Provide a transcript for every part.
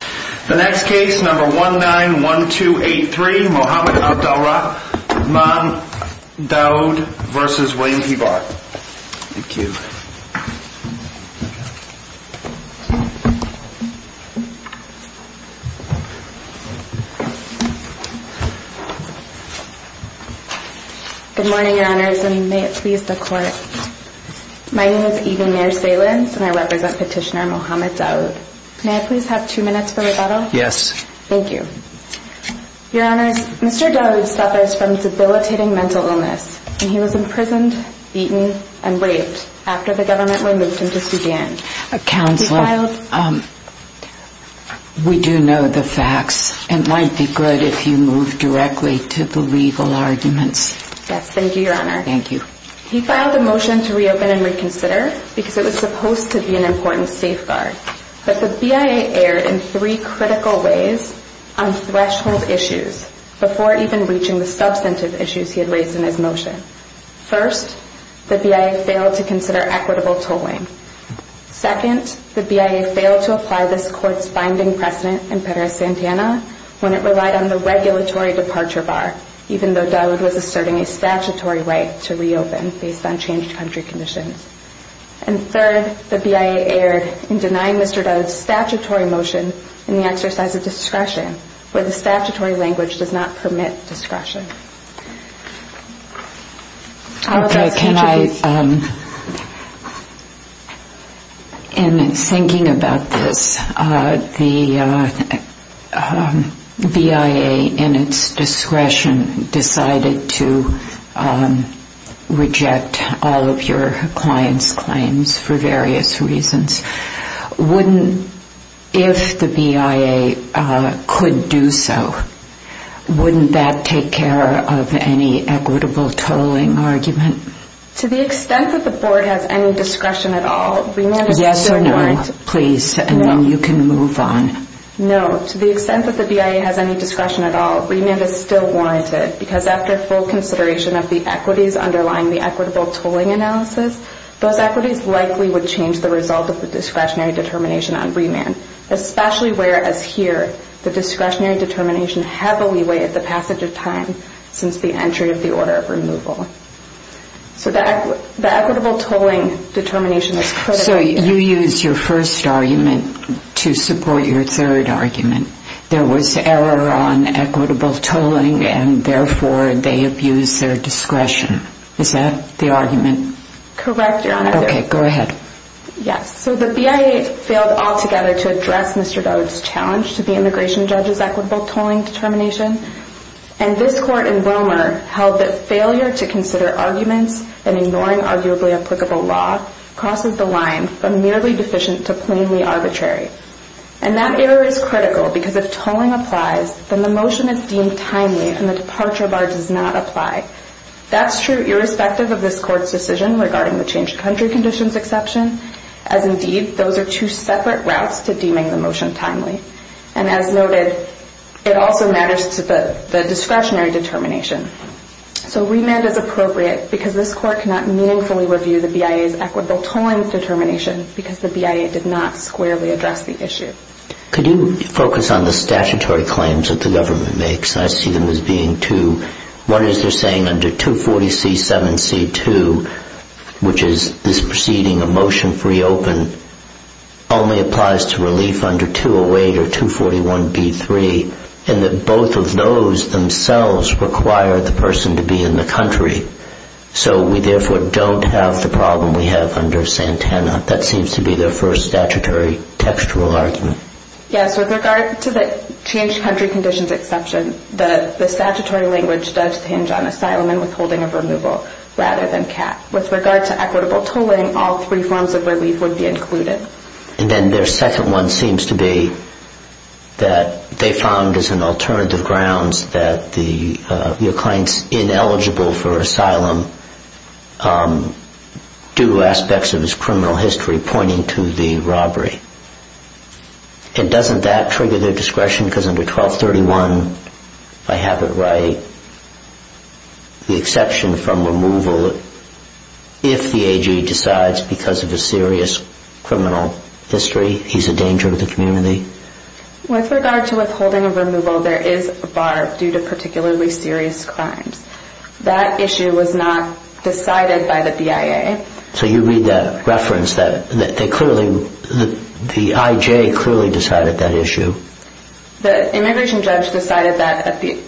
The next case, number 191283, Mohamed Abdelrahman Daoud v. William P. Barr Thank you Good morning, your honors, and may it please the court My name is Eden Mayer-Salins and I represent petitioner Mohamed Daoud May I please have two minutes for rebuttal? Yes Thank you Your honors, Mr. Daoud suffers from debilitating mental illness and he was imprisoned, beaten, and raped after the government removed him to Sudan Counselor, we do know the facts It might be good if you move directly to the legal arguments Yes, thank you, your honor He filed a motion to reopen and reconsider because it was supposed to be an important safeguard But the BIA erred in three critical ways on threshold issues before even reaching the substantive issues he had raised in his motion First, the BIA failed to consider equitable tolling Second, the BIA failed to apply this court's binding precedent in Perez-Santana when it relied on the regulatory departure bar even though Daoud was asserting a statutory right to reopen based on changed country conditions And third, the BIA erred in denying Mr. Daoud's statutory motion in the exercise of discretion where the statutory language does not permit discretion In thinking about this, the BIA, in its discretion, decided to reject all of your clients' claims for various reasons If the BIA could do so, wouldn't that take care of any equitable tolling argument? To the extent that the board has any discretion at all, remand is still warranted Yes or no, please, and then you can move on No, to the extent that the BIA has any discretion at all, remand is still warranted because after full consideration of the equities underlying the equitable tolling analysis those equities likely would change the result of the discretionary determination on remand especially where, as here, the discretionary determination heavily weighed the passage of time since the entry of the order of removal So the equitable tolling determination is critical So you used your first argument to support your third argument There was error on equitable tolling and therefore they abused their discretion Is that the argument? Correct, Your Honor Okay, go ahead Yes, so the BIA failed altogether to address Mr. Dodd's challenge to the immigration judge's equitable tolling determination and this court in Romer held that failure to consider arguments and ignoring arguably applicable law crosses the line from merely deficient to plainly arbitrary and that error is critical because if tolling applies, then the motion is deemed timely and the departure bar does not apply That's true irrespective of this court's decision regarding the changed country conditions exception as indeed those are two separate routes to deeming the motion timely and as noted, it also matters to the discretionary determination So remand is appropriate because this court cannot meaningfully review the BIA's equitable tolling determination because the BIA did not squarely address the issue Could you focus on the statutory claims that the government makes? I see them as being two One is they're saying under 240C7C2, which is this proceeding of motion free open only applies to relief under 208 or 241B3 and that both of those themselves require the person to be in the country so we therefore don't have the problem we have under Santana That seems to be their first statutory textual argument Yes, with regard to the changed country conditions exception the statutory language does hinge on asylum and withholding of removal rather than cap With regard to equitable tolling, all three forms of relief would be included And then their second one seems to be that they found as an alternative grounds that your client's ineligible for asylum due to aspects of his criminal history pointing to the robbery And doesn't that trigger their discretion? Because under 1231, I have it right, the exception from removal if the AG decides because of a serious criminal history, he's a danger to the community With regard to withholding of removal, there is a bar due to particularly serious crimes That issue was not decided by the BIA So you read that reference that the IJ clearly decided that issue? The immigration judge decided that at the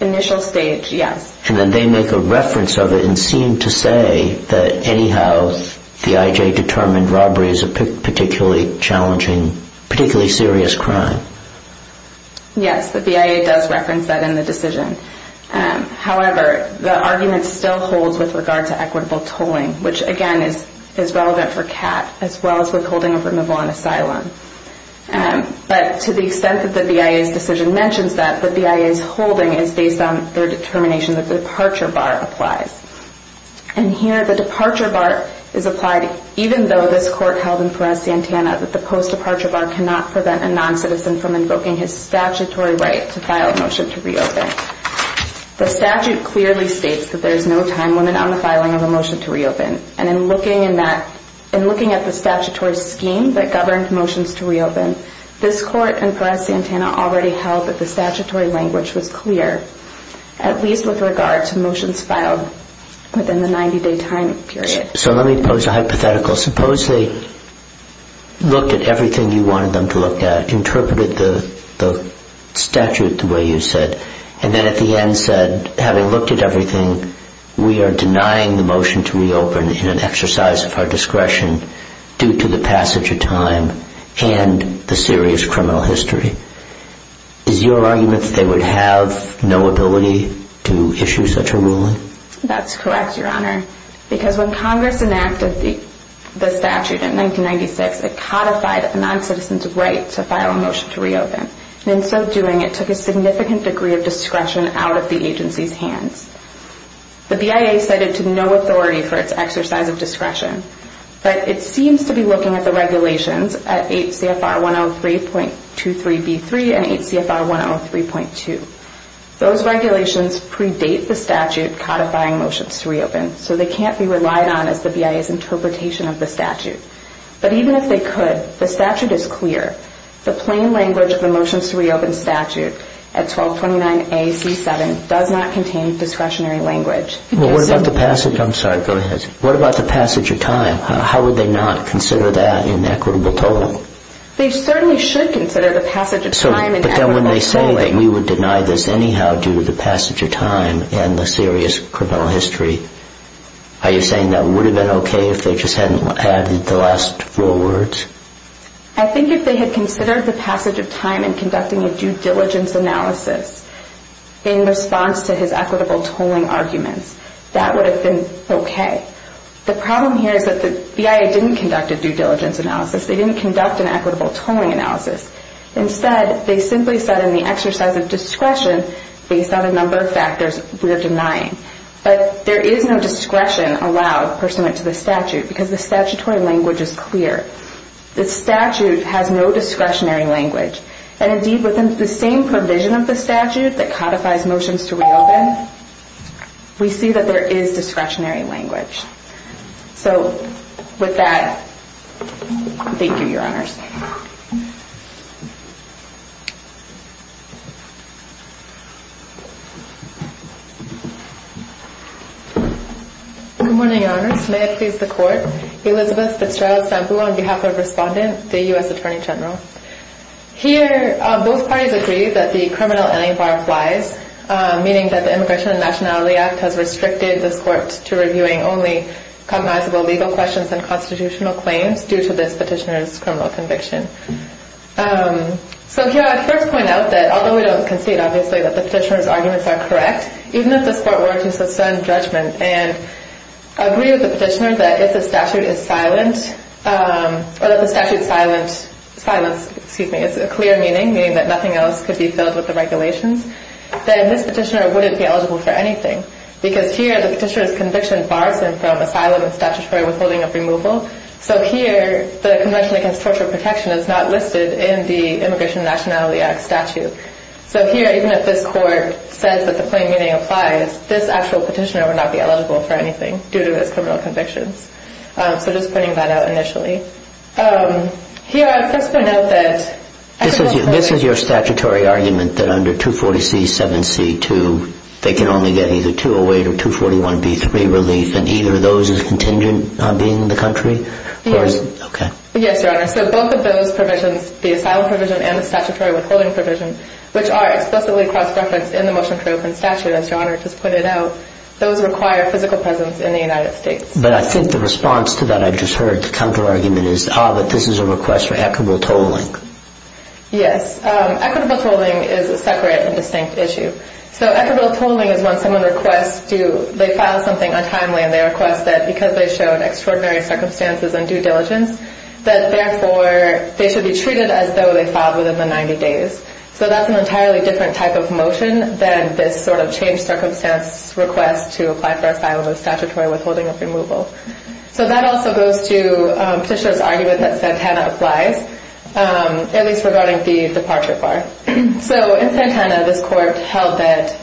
initial stage, yes And then they make a reference of it and seem to say that anyhow The IJ determined robbery is a particularly challenging, particularly serious crime Yes, the BIA does reference that in the decision However, the argument still holds with regard to equitable tolling which again is relevant for cap as well as withholding of removal on asylum But to the extent that the BIA's decision mentions that the BIA's holding is based on their determination that the departure bar applies And here the departure bar is applied even though this court held in Perez-Santana that the post-departure bar cannot prevent a non-citizen from invoking his statutory right to file a motion to reopen The statute clearly states that there is no time limit on the filing of a motion to reopen And in looking at the statutory scheme that governed motions to reopen This court in Perez-Santana already held that the statutory language was clear At least with regard to motions filed within the 90-day time period So let me pose a hypothetical Suppose they looked at everything you wanted them to look at Interpreted the statute the way you said And then at the end said, having looked at everything We are denying the motion to reopen in an exercise of our discretion Due to the passage of time and the serious criminal history Is your argument that they would have no ability to issue such a ruling? That's correct, your honor Because when Congress enacted the statute in 1996 It codified a non-citizen's right to file a motion to reopen And in so doing it took a significant degree of discretion out of the agency's hands The BIA cited to no authority for its exercise of discretion But it seems to be looking at the regulations at 8 CFR 103.23 B3 and 8 CFR 103.2 Those regulations predate the statute codifying motions to reopen So they can't be relied on as the BIA's interpretation of the statute But even if they could, the statute is clear The plain language of the motions to reopen statute at 1229 A.C. 7 Does not contain discretionary language I'm sorry, go ahead What about the passage of time? How would they not consider that an equitable tolling? They certainly should consider the passage of time But then when they say that we would deny this anyhow Due to the passage of time and the serious criminal history Are you saying that would have been okay if they just hadn't added the last four words? I think if they had considered the passage of time And conducting a due diligence analysis In response to his equitable tolling arguments That would have been okay The problem here is that the BIA didn't conduct a due diligence analysis They didn't conduct an equitable tolling analysis Instead, they simply said in the exercise of discretion Based on a number of factors, we're denying But there is no discretion allowed pursuant to the statute Because the statutory language is clear The statute has no discretionary language And indeed, within the same provision of the statute That codifies motions to reopen We see that there is discretionary language So, with that, thank you, your honors Good morning, your honors May I please the court? Elizabeth Fitzgerald Sambu on behalf of Respondent The U.S. Attorney General Here, both parties agree that the criminal alibar applies Meaning that the Immigration and Nationality Act Has restricted this court to reviewing only Cognizable legal questions and constitutional claims Due to this petitioner's criminal conviction So here, I'd first point out that Although we don't concede, obviously, that the petitioner's arguments are correct Even if this court were to suspend judgment And agree with the petitioner that if the statute is silent Or that the statute's silence is a clear meaning Meaning that nothing else could be filled with the regulations Then this petitioner wouldn't be eligible for anything Because here, the petitioner's conviction Bars him from asylum and statutory withholding of removal So here, the Convention Against Torture Protection Is not listed in the Immigration and Nationality Act statute So here, even if this court says that the plain meaning applies This actual petitioner would not be eligible for anything Due to his criminal convictions So just pointing that out initially Here, I'd first point out that This is your statutory argument that under 240C-7C-2 They can only get either 208 or 241B-3 relief And either of those is contingent on being in the country? Yes, Your Honor, so both of those provisions The asylum provision and the statutory withholding provision Which are explicitly cross-referenced in the Motion for Open Statute As Your Honor just pointed out Those require physical presence in the United States But I think the response to that I just heard The counter-argument is Ah, but this is a request for equitable tolling Yes, equitable tolling is a separate and distinct issue So equitable tolling is when someone requests to They file something untimely and they request that Because they've shown extraordinary circumstances and due diligence That therefore they should be treated as though They filed within the 90 days So that's an entirely different type of motion Than this sort of changed circumstance request To apply for asylum or statutory withholding or removal So that also goes to Petitioner's argument that Santana applies At least regarding the departure bar So in Santana this Court held that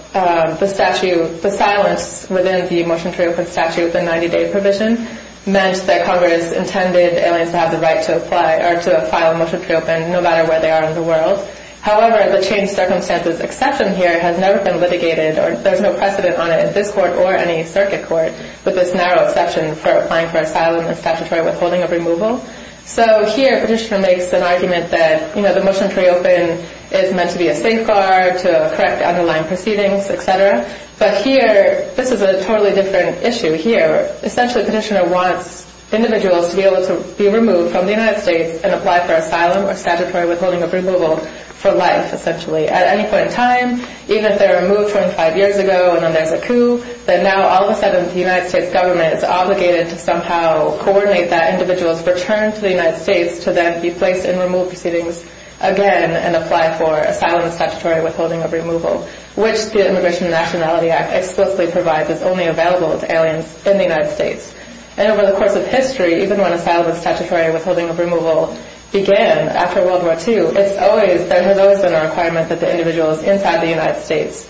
The silence within the Motion for Open Statute The 90 day provision Meant that Congress intended aliens to have the right to Apply or to file a Motion for Open No matter where they are in the world However, the changed circumstances exception here Has never been litigated There's no precedent on it in this Court or any Circuit Court With this narrow exception for applying for asylum And statutory withholding or removal So here Petitioner makes an argument that The Motion for Open is meant to be a safeguard To correct underlying proceedings, etc. But here, this is a totally different issue Here, essentially Petitioner wants individuals To be able to be removed from the United States And apply for asylum or statutory withholding or removal For life, essentially At any point in time Even if they were removed 25 years ago And then there's a coup Then now all of a sudden the United States government Is obligated to somehow coordinate that individuals Return to the United States To then be placed in removed proceedings again And apply for asylum and statutory withholding or removal Which the Immigration and Nationality Act explicitly provides Is only available to aliens in the United States And over the course of history Even when asylum and statutory withholding or removal Began after World War II There has always been a requirement That the individuals inside the United States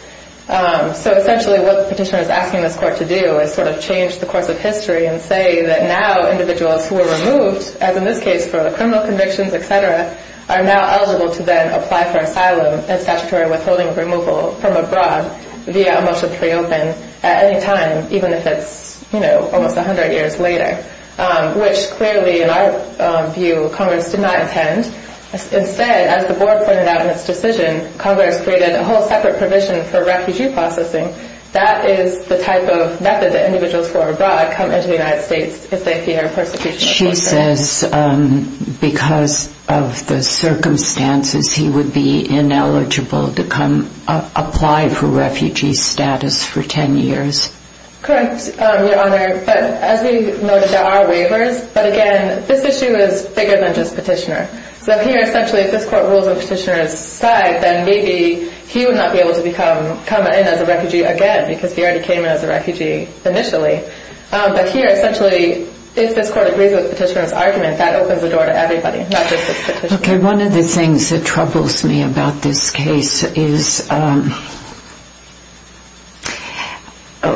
So essentially what Petitioner is asking this court to do Is sort of change the course of history And say that now individuals who were removed As in this case for criminal convictions, etc. Are now eligible to then apply for asylum And statutory withholding or removal from abroad Via a Motion to Reopen at any time Even if it's almost 100 years later Which clearly in our view Congress did not intend Instead, as the Board pointed out in its decision Congress created a whole separate provision For refugee processing That is the type of method that individuals who are abroad Come into the United States if they fear persecution She says because of the circumstances He would be ineligible to come Apply for refugee status for 10 years Correct, Your Honor But as we noted there are waivers But again this issue is bigger than just Petitioner So here essentially if this court rules on Petitioner's side Then maybe he would not be able to come in as a refugee again Because he already came in as a refugee initially But here essentially if this court agrees with Petitioner's argument That opens the door to everybody Not just Petitioner Okay, one of the things that troubles me about this case Is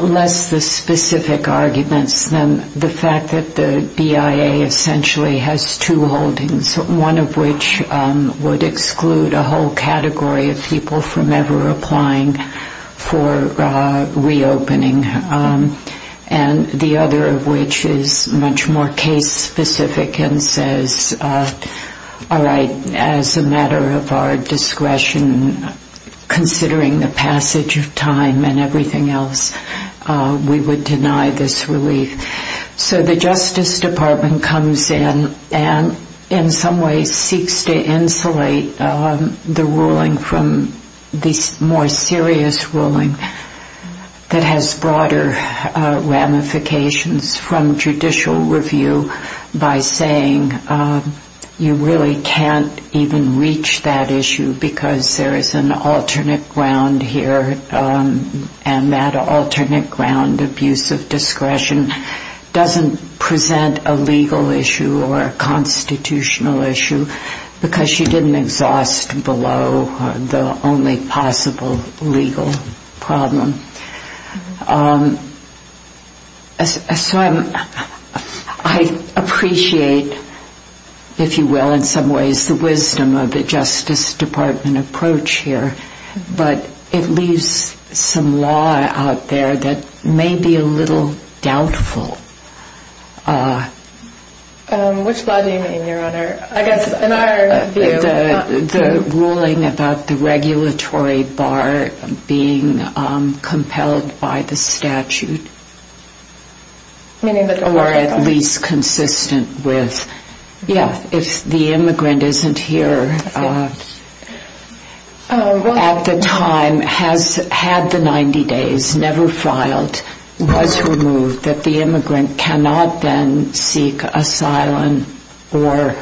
less the specific arguments Than the fact that the BIA essentially has two holdings One of which would exclude a whole category of people From ever applying for reopening And the other of which is much more case specific And says all right as a matter of our discretion Considering the passage of time and everything else We would deny this relief So the Justice Department comes in And in some ways seeks to insulate the ruling From this more serious ruling That has broader ramifications from judicial review By saying you really can't even reach that issue Because there is an alternate ground here And that alternate ground of use of discretion Doesn't present a legal issue or a constitutional issue Because you didn't exhaust below the only possible legal problem So I appreciate if you will in some ways The wisdom of the Justice Department approach here But it leaves some law out there That may be a little doubtful Which law do you mean your honor? I guess in our view The ruling about the regulatory bar being compelled by the statute Or at least consistent with If the immigrant isn't here at the time Has had the 90 days, never filed Was removed that the immigrant cannot then seek Asylum or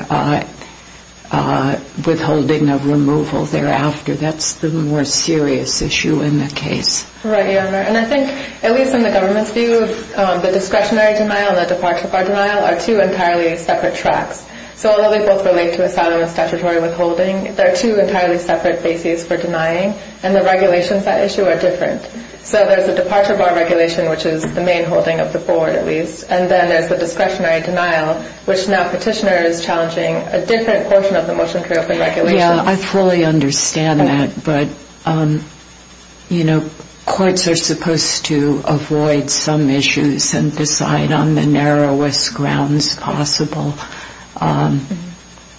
withholding of removal thereafter That's the more serious issue in the case Right your honor And I think at least in the government's view The discretionary denial and the departure bar denial Are two entirely separate tracks So although they both relate to asylum and statutory withholding They are two entirely separate bases for denying And the regulations that issue are different So there's the departure bar regulation Which is the main holding of the board at least And then there's the discretionary denial Which now petitioner is challenging A different portion of the motion to reopen regulation Yeah I fully understand that But you know courts are supposed to avoid some issues And decide on the narrowest grounds possible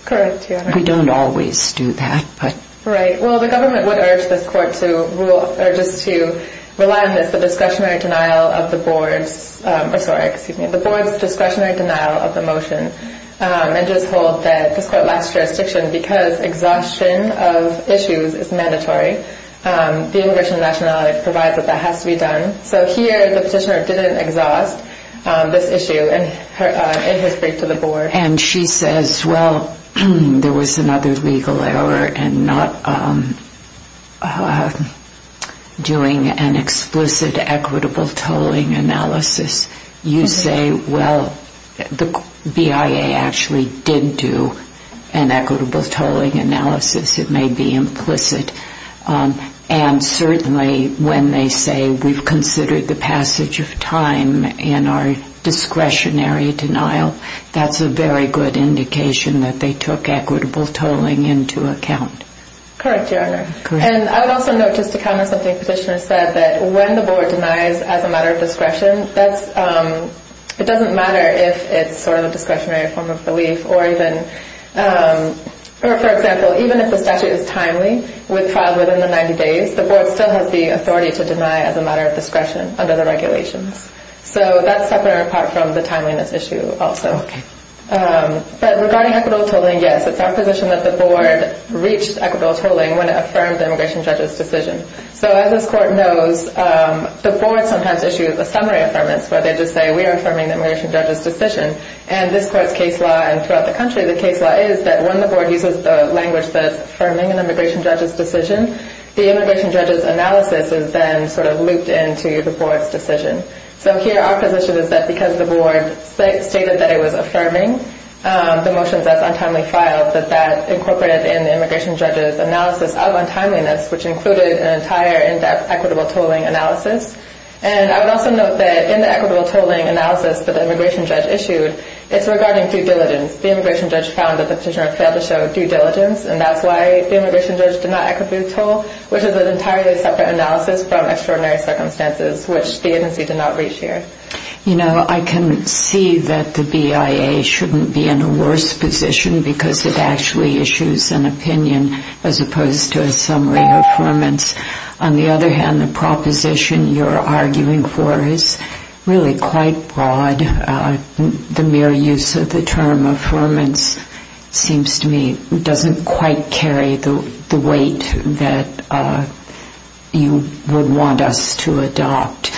Correct your honor We don't always do that Right well the government would urge this court To rely on this The discretionary denial of the board's Or sorry excuse me The board's discretionary denial of the motion And just hold that this court lacks jurisdiction Because exhaustion of issues is mandatory The immigration and nationality provides that that has to be done So here the petitioner didn't exhaust this issue In his brief to the board And she says well there was another legal error And not doing an explicit equitable tolling analysis You say well the BIA actually did do An equitable tolling analysis It may be implicit And certainly when they say We've considered the passage of time In our discretionary denial That's a very good indication That they took equitable tolling into account Correct your honor And I would also note just to comment Something the petitioner said That when the board denies as a matter of discretion It doesn't matter if it's sort of a discretionary form of belief Or even for example Even if the statute is timely With filed within the 90 days The board still has the authority to deny As a matter of discretion under the regulations So that's separate and apart from the timeliness issue also Regarding equitable tolling Yes it's our position that the board reached equitable tolling When it affirmed the immigration judge's decision So as this court knows The board sometimes issues a summary affirmance Where they just say We are affirming the immigration judge's decision And this court's case law And throughout the country The case law is That when the board uses the language That is affirming an immigration judge's decision The immigration judge's analysis Is then sort of looped into the board's decision So here our position is that Because the board stated that it was affirming The motions as untimely filed That that incorporated in the immigration judge's analysis Of untimeliness Which included an entire equitable tolling analysis And I would also note that In the equitable tolling analysis That the immigration judge issued It's regarding due diligence The immigration judge found that the petitioner Failed to show due diligence And that's why the immigration judge Did not equitable toll Which is an entirely separate analysis From extraordinary circumstances Which the agency did not reach here You know, I can see that the BIA Shouldn't be in a worse position Because it actually issues an opinion As opposed to a summary affirmance On the other hand The proposition you're arguing for Is really quite broad The mere use of the term affirmance Seems to me Doesn't quite carry the weight That you would want us to adopt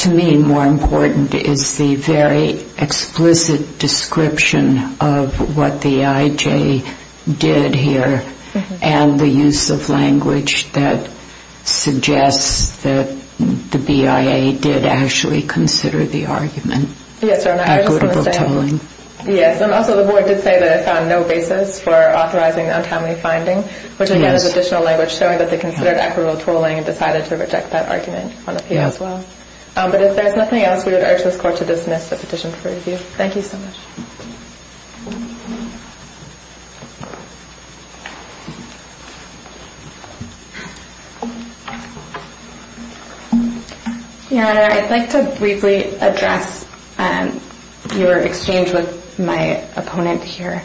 To me more important Is the very explicit description Of what the IJ did here And the use of language That suggests that the BIA Did actually consider the argument Equitable tolling Yes, and also the board did say That it found no basis For authorizing untimely finding Which again is additional language Showing that they considered equitable tolling And decided to reject that argument On appeal as well But if there's nothing else We would urge this court to dismiss The petition for review Thank you so much Your Honor, I'd like to briefly address Your exchange with my opponent here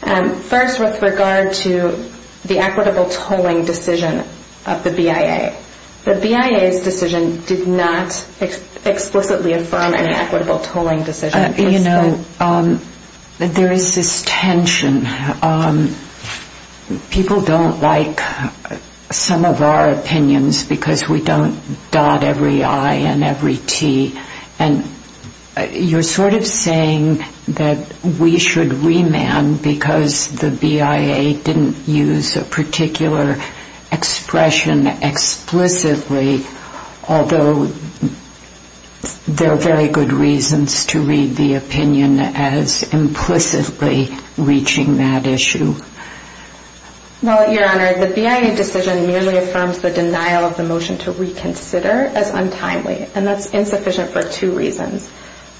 First with regard to The equitable tolling decision Of the BIA The BIA's decision did not Explicitly affirm Any equitable tolling decision You know, there is this tension People don't like some of our opinions Because we don't dot every I and every T And you're sort of saying That we should remand Because the BIA didn't use A particular expression explicitly Although there are very good reasons To read the opinion As implicitly reaching that issue Well, Your Honor, the BIA decision Merely affirms the denial of the motion To reconsider as untimely And that's insufficient for two reasons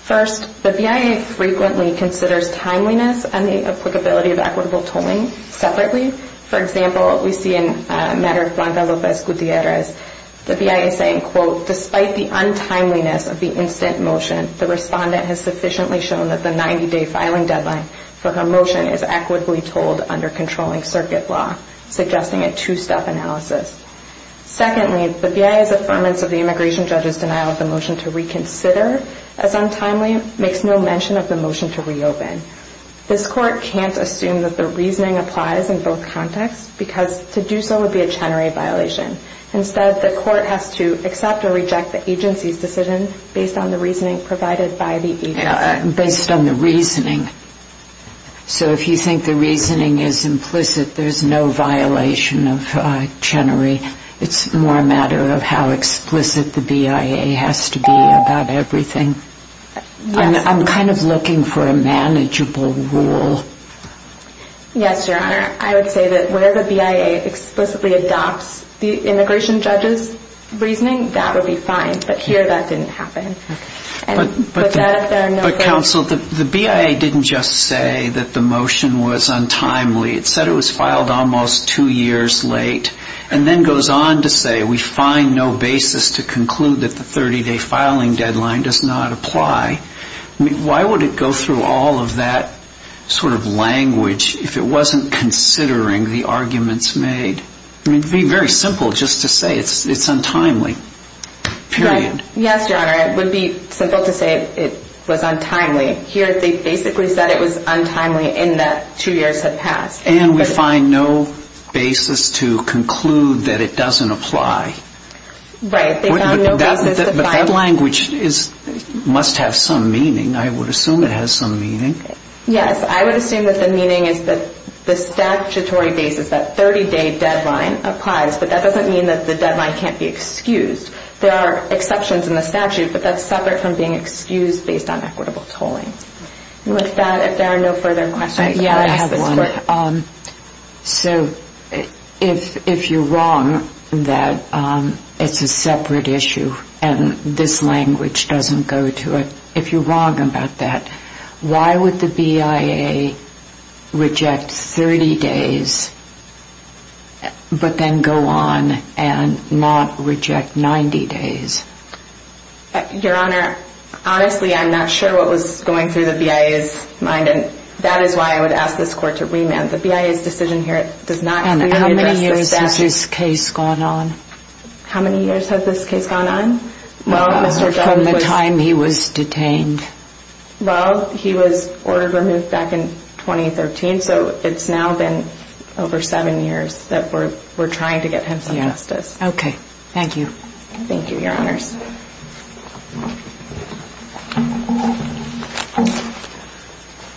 First, the BIA frequently considers Timeliness and the applicability Of equitable tolling separately For example, we see in a matter Of Blanca Lopez Gutierrez The BIA saying, quote, Despite the untimeliness of the instant motion The respondent has sufficiently shown That the 90-day filing deadline For her motion is equitably tolled Under controlling circuit law Suggesting a two-step analysis Secondly, the BIA's affirmance Of the immigration judge's denial Of the motion to reconsider As untimely makes no mention Of the motion to reopen This Court can't assume That the reasoning applies in both contexts Because to do so would be a Chenery violation Instead, the Court has to accept Or reject the agency's decision Based on the reasoning provided by the agency Based on the reasoning So if you think the reasoning is implicit There's no violation of Chenery It's more a matter of how explicit The BIA has to be about everything I'm kind of looking for a manageable rule Yes, Your Honor I would say that where the BIA Explicitly adopts the immigration judge's reasoning That would be fine But here that didn't happen But, Counsel, the BIA didn't just say That the motion was untimely It said it was filed almost two years late And then goes on to say We find no basis to conclude That the 30-day filing deadline does not apply Why would it go through all of that sort of language If it wasn't considering the arguments made? It would be very simple just to say It's untimely, period Yes, Your Honor It would be simple to say it was untimely Here they basically said it was untimely In that two years had passed And we find no basis to conclude That it doesn't apply Right, they found no basis to find But that language must have some meaning I would assume it has some meaning Yes, I would assume that the meaning is That the statutory basis, that 30-day deadline applies But that doesn't mean that the deadline can't be excused There are exceptions in the statute But that's separate from being excused Based on equitable tolling With that, if there are no further questions Yeah, I have one So, if you're wrong that it's a separate issue And this language doesn't go to it If you're wrong about that Why would the BIA reject 30 days But then go on and not reject 90 days? Your Honor, honestly I'm not sure What was going through the BIA's mind And that is why I would ask this court to remand The BIA's decision here does not And how many years has this case gone on? How many years has this case gone on? From the time he was detained Well, he was ordered removed back in 2013 So it's now been over seven years That we're trying to get him some justice Okay, thank you Thank you, Your Honors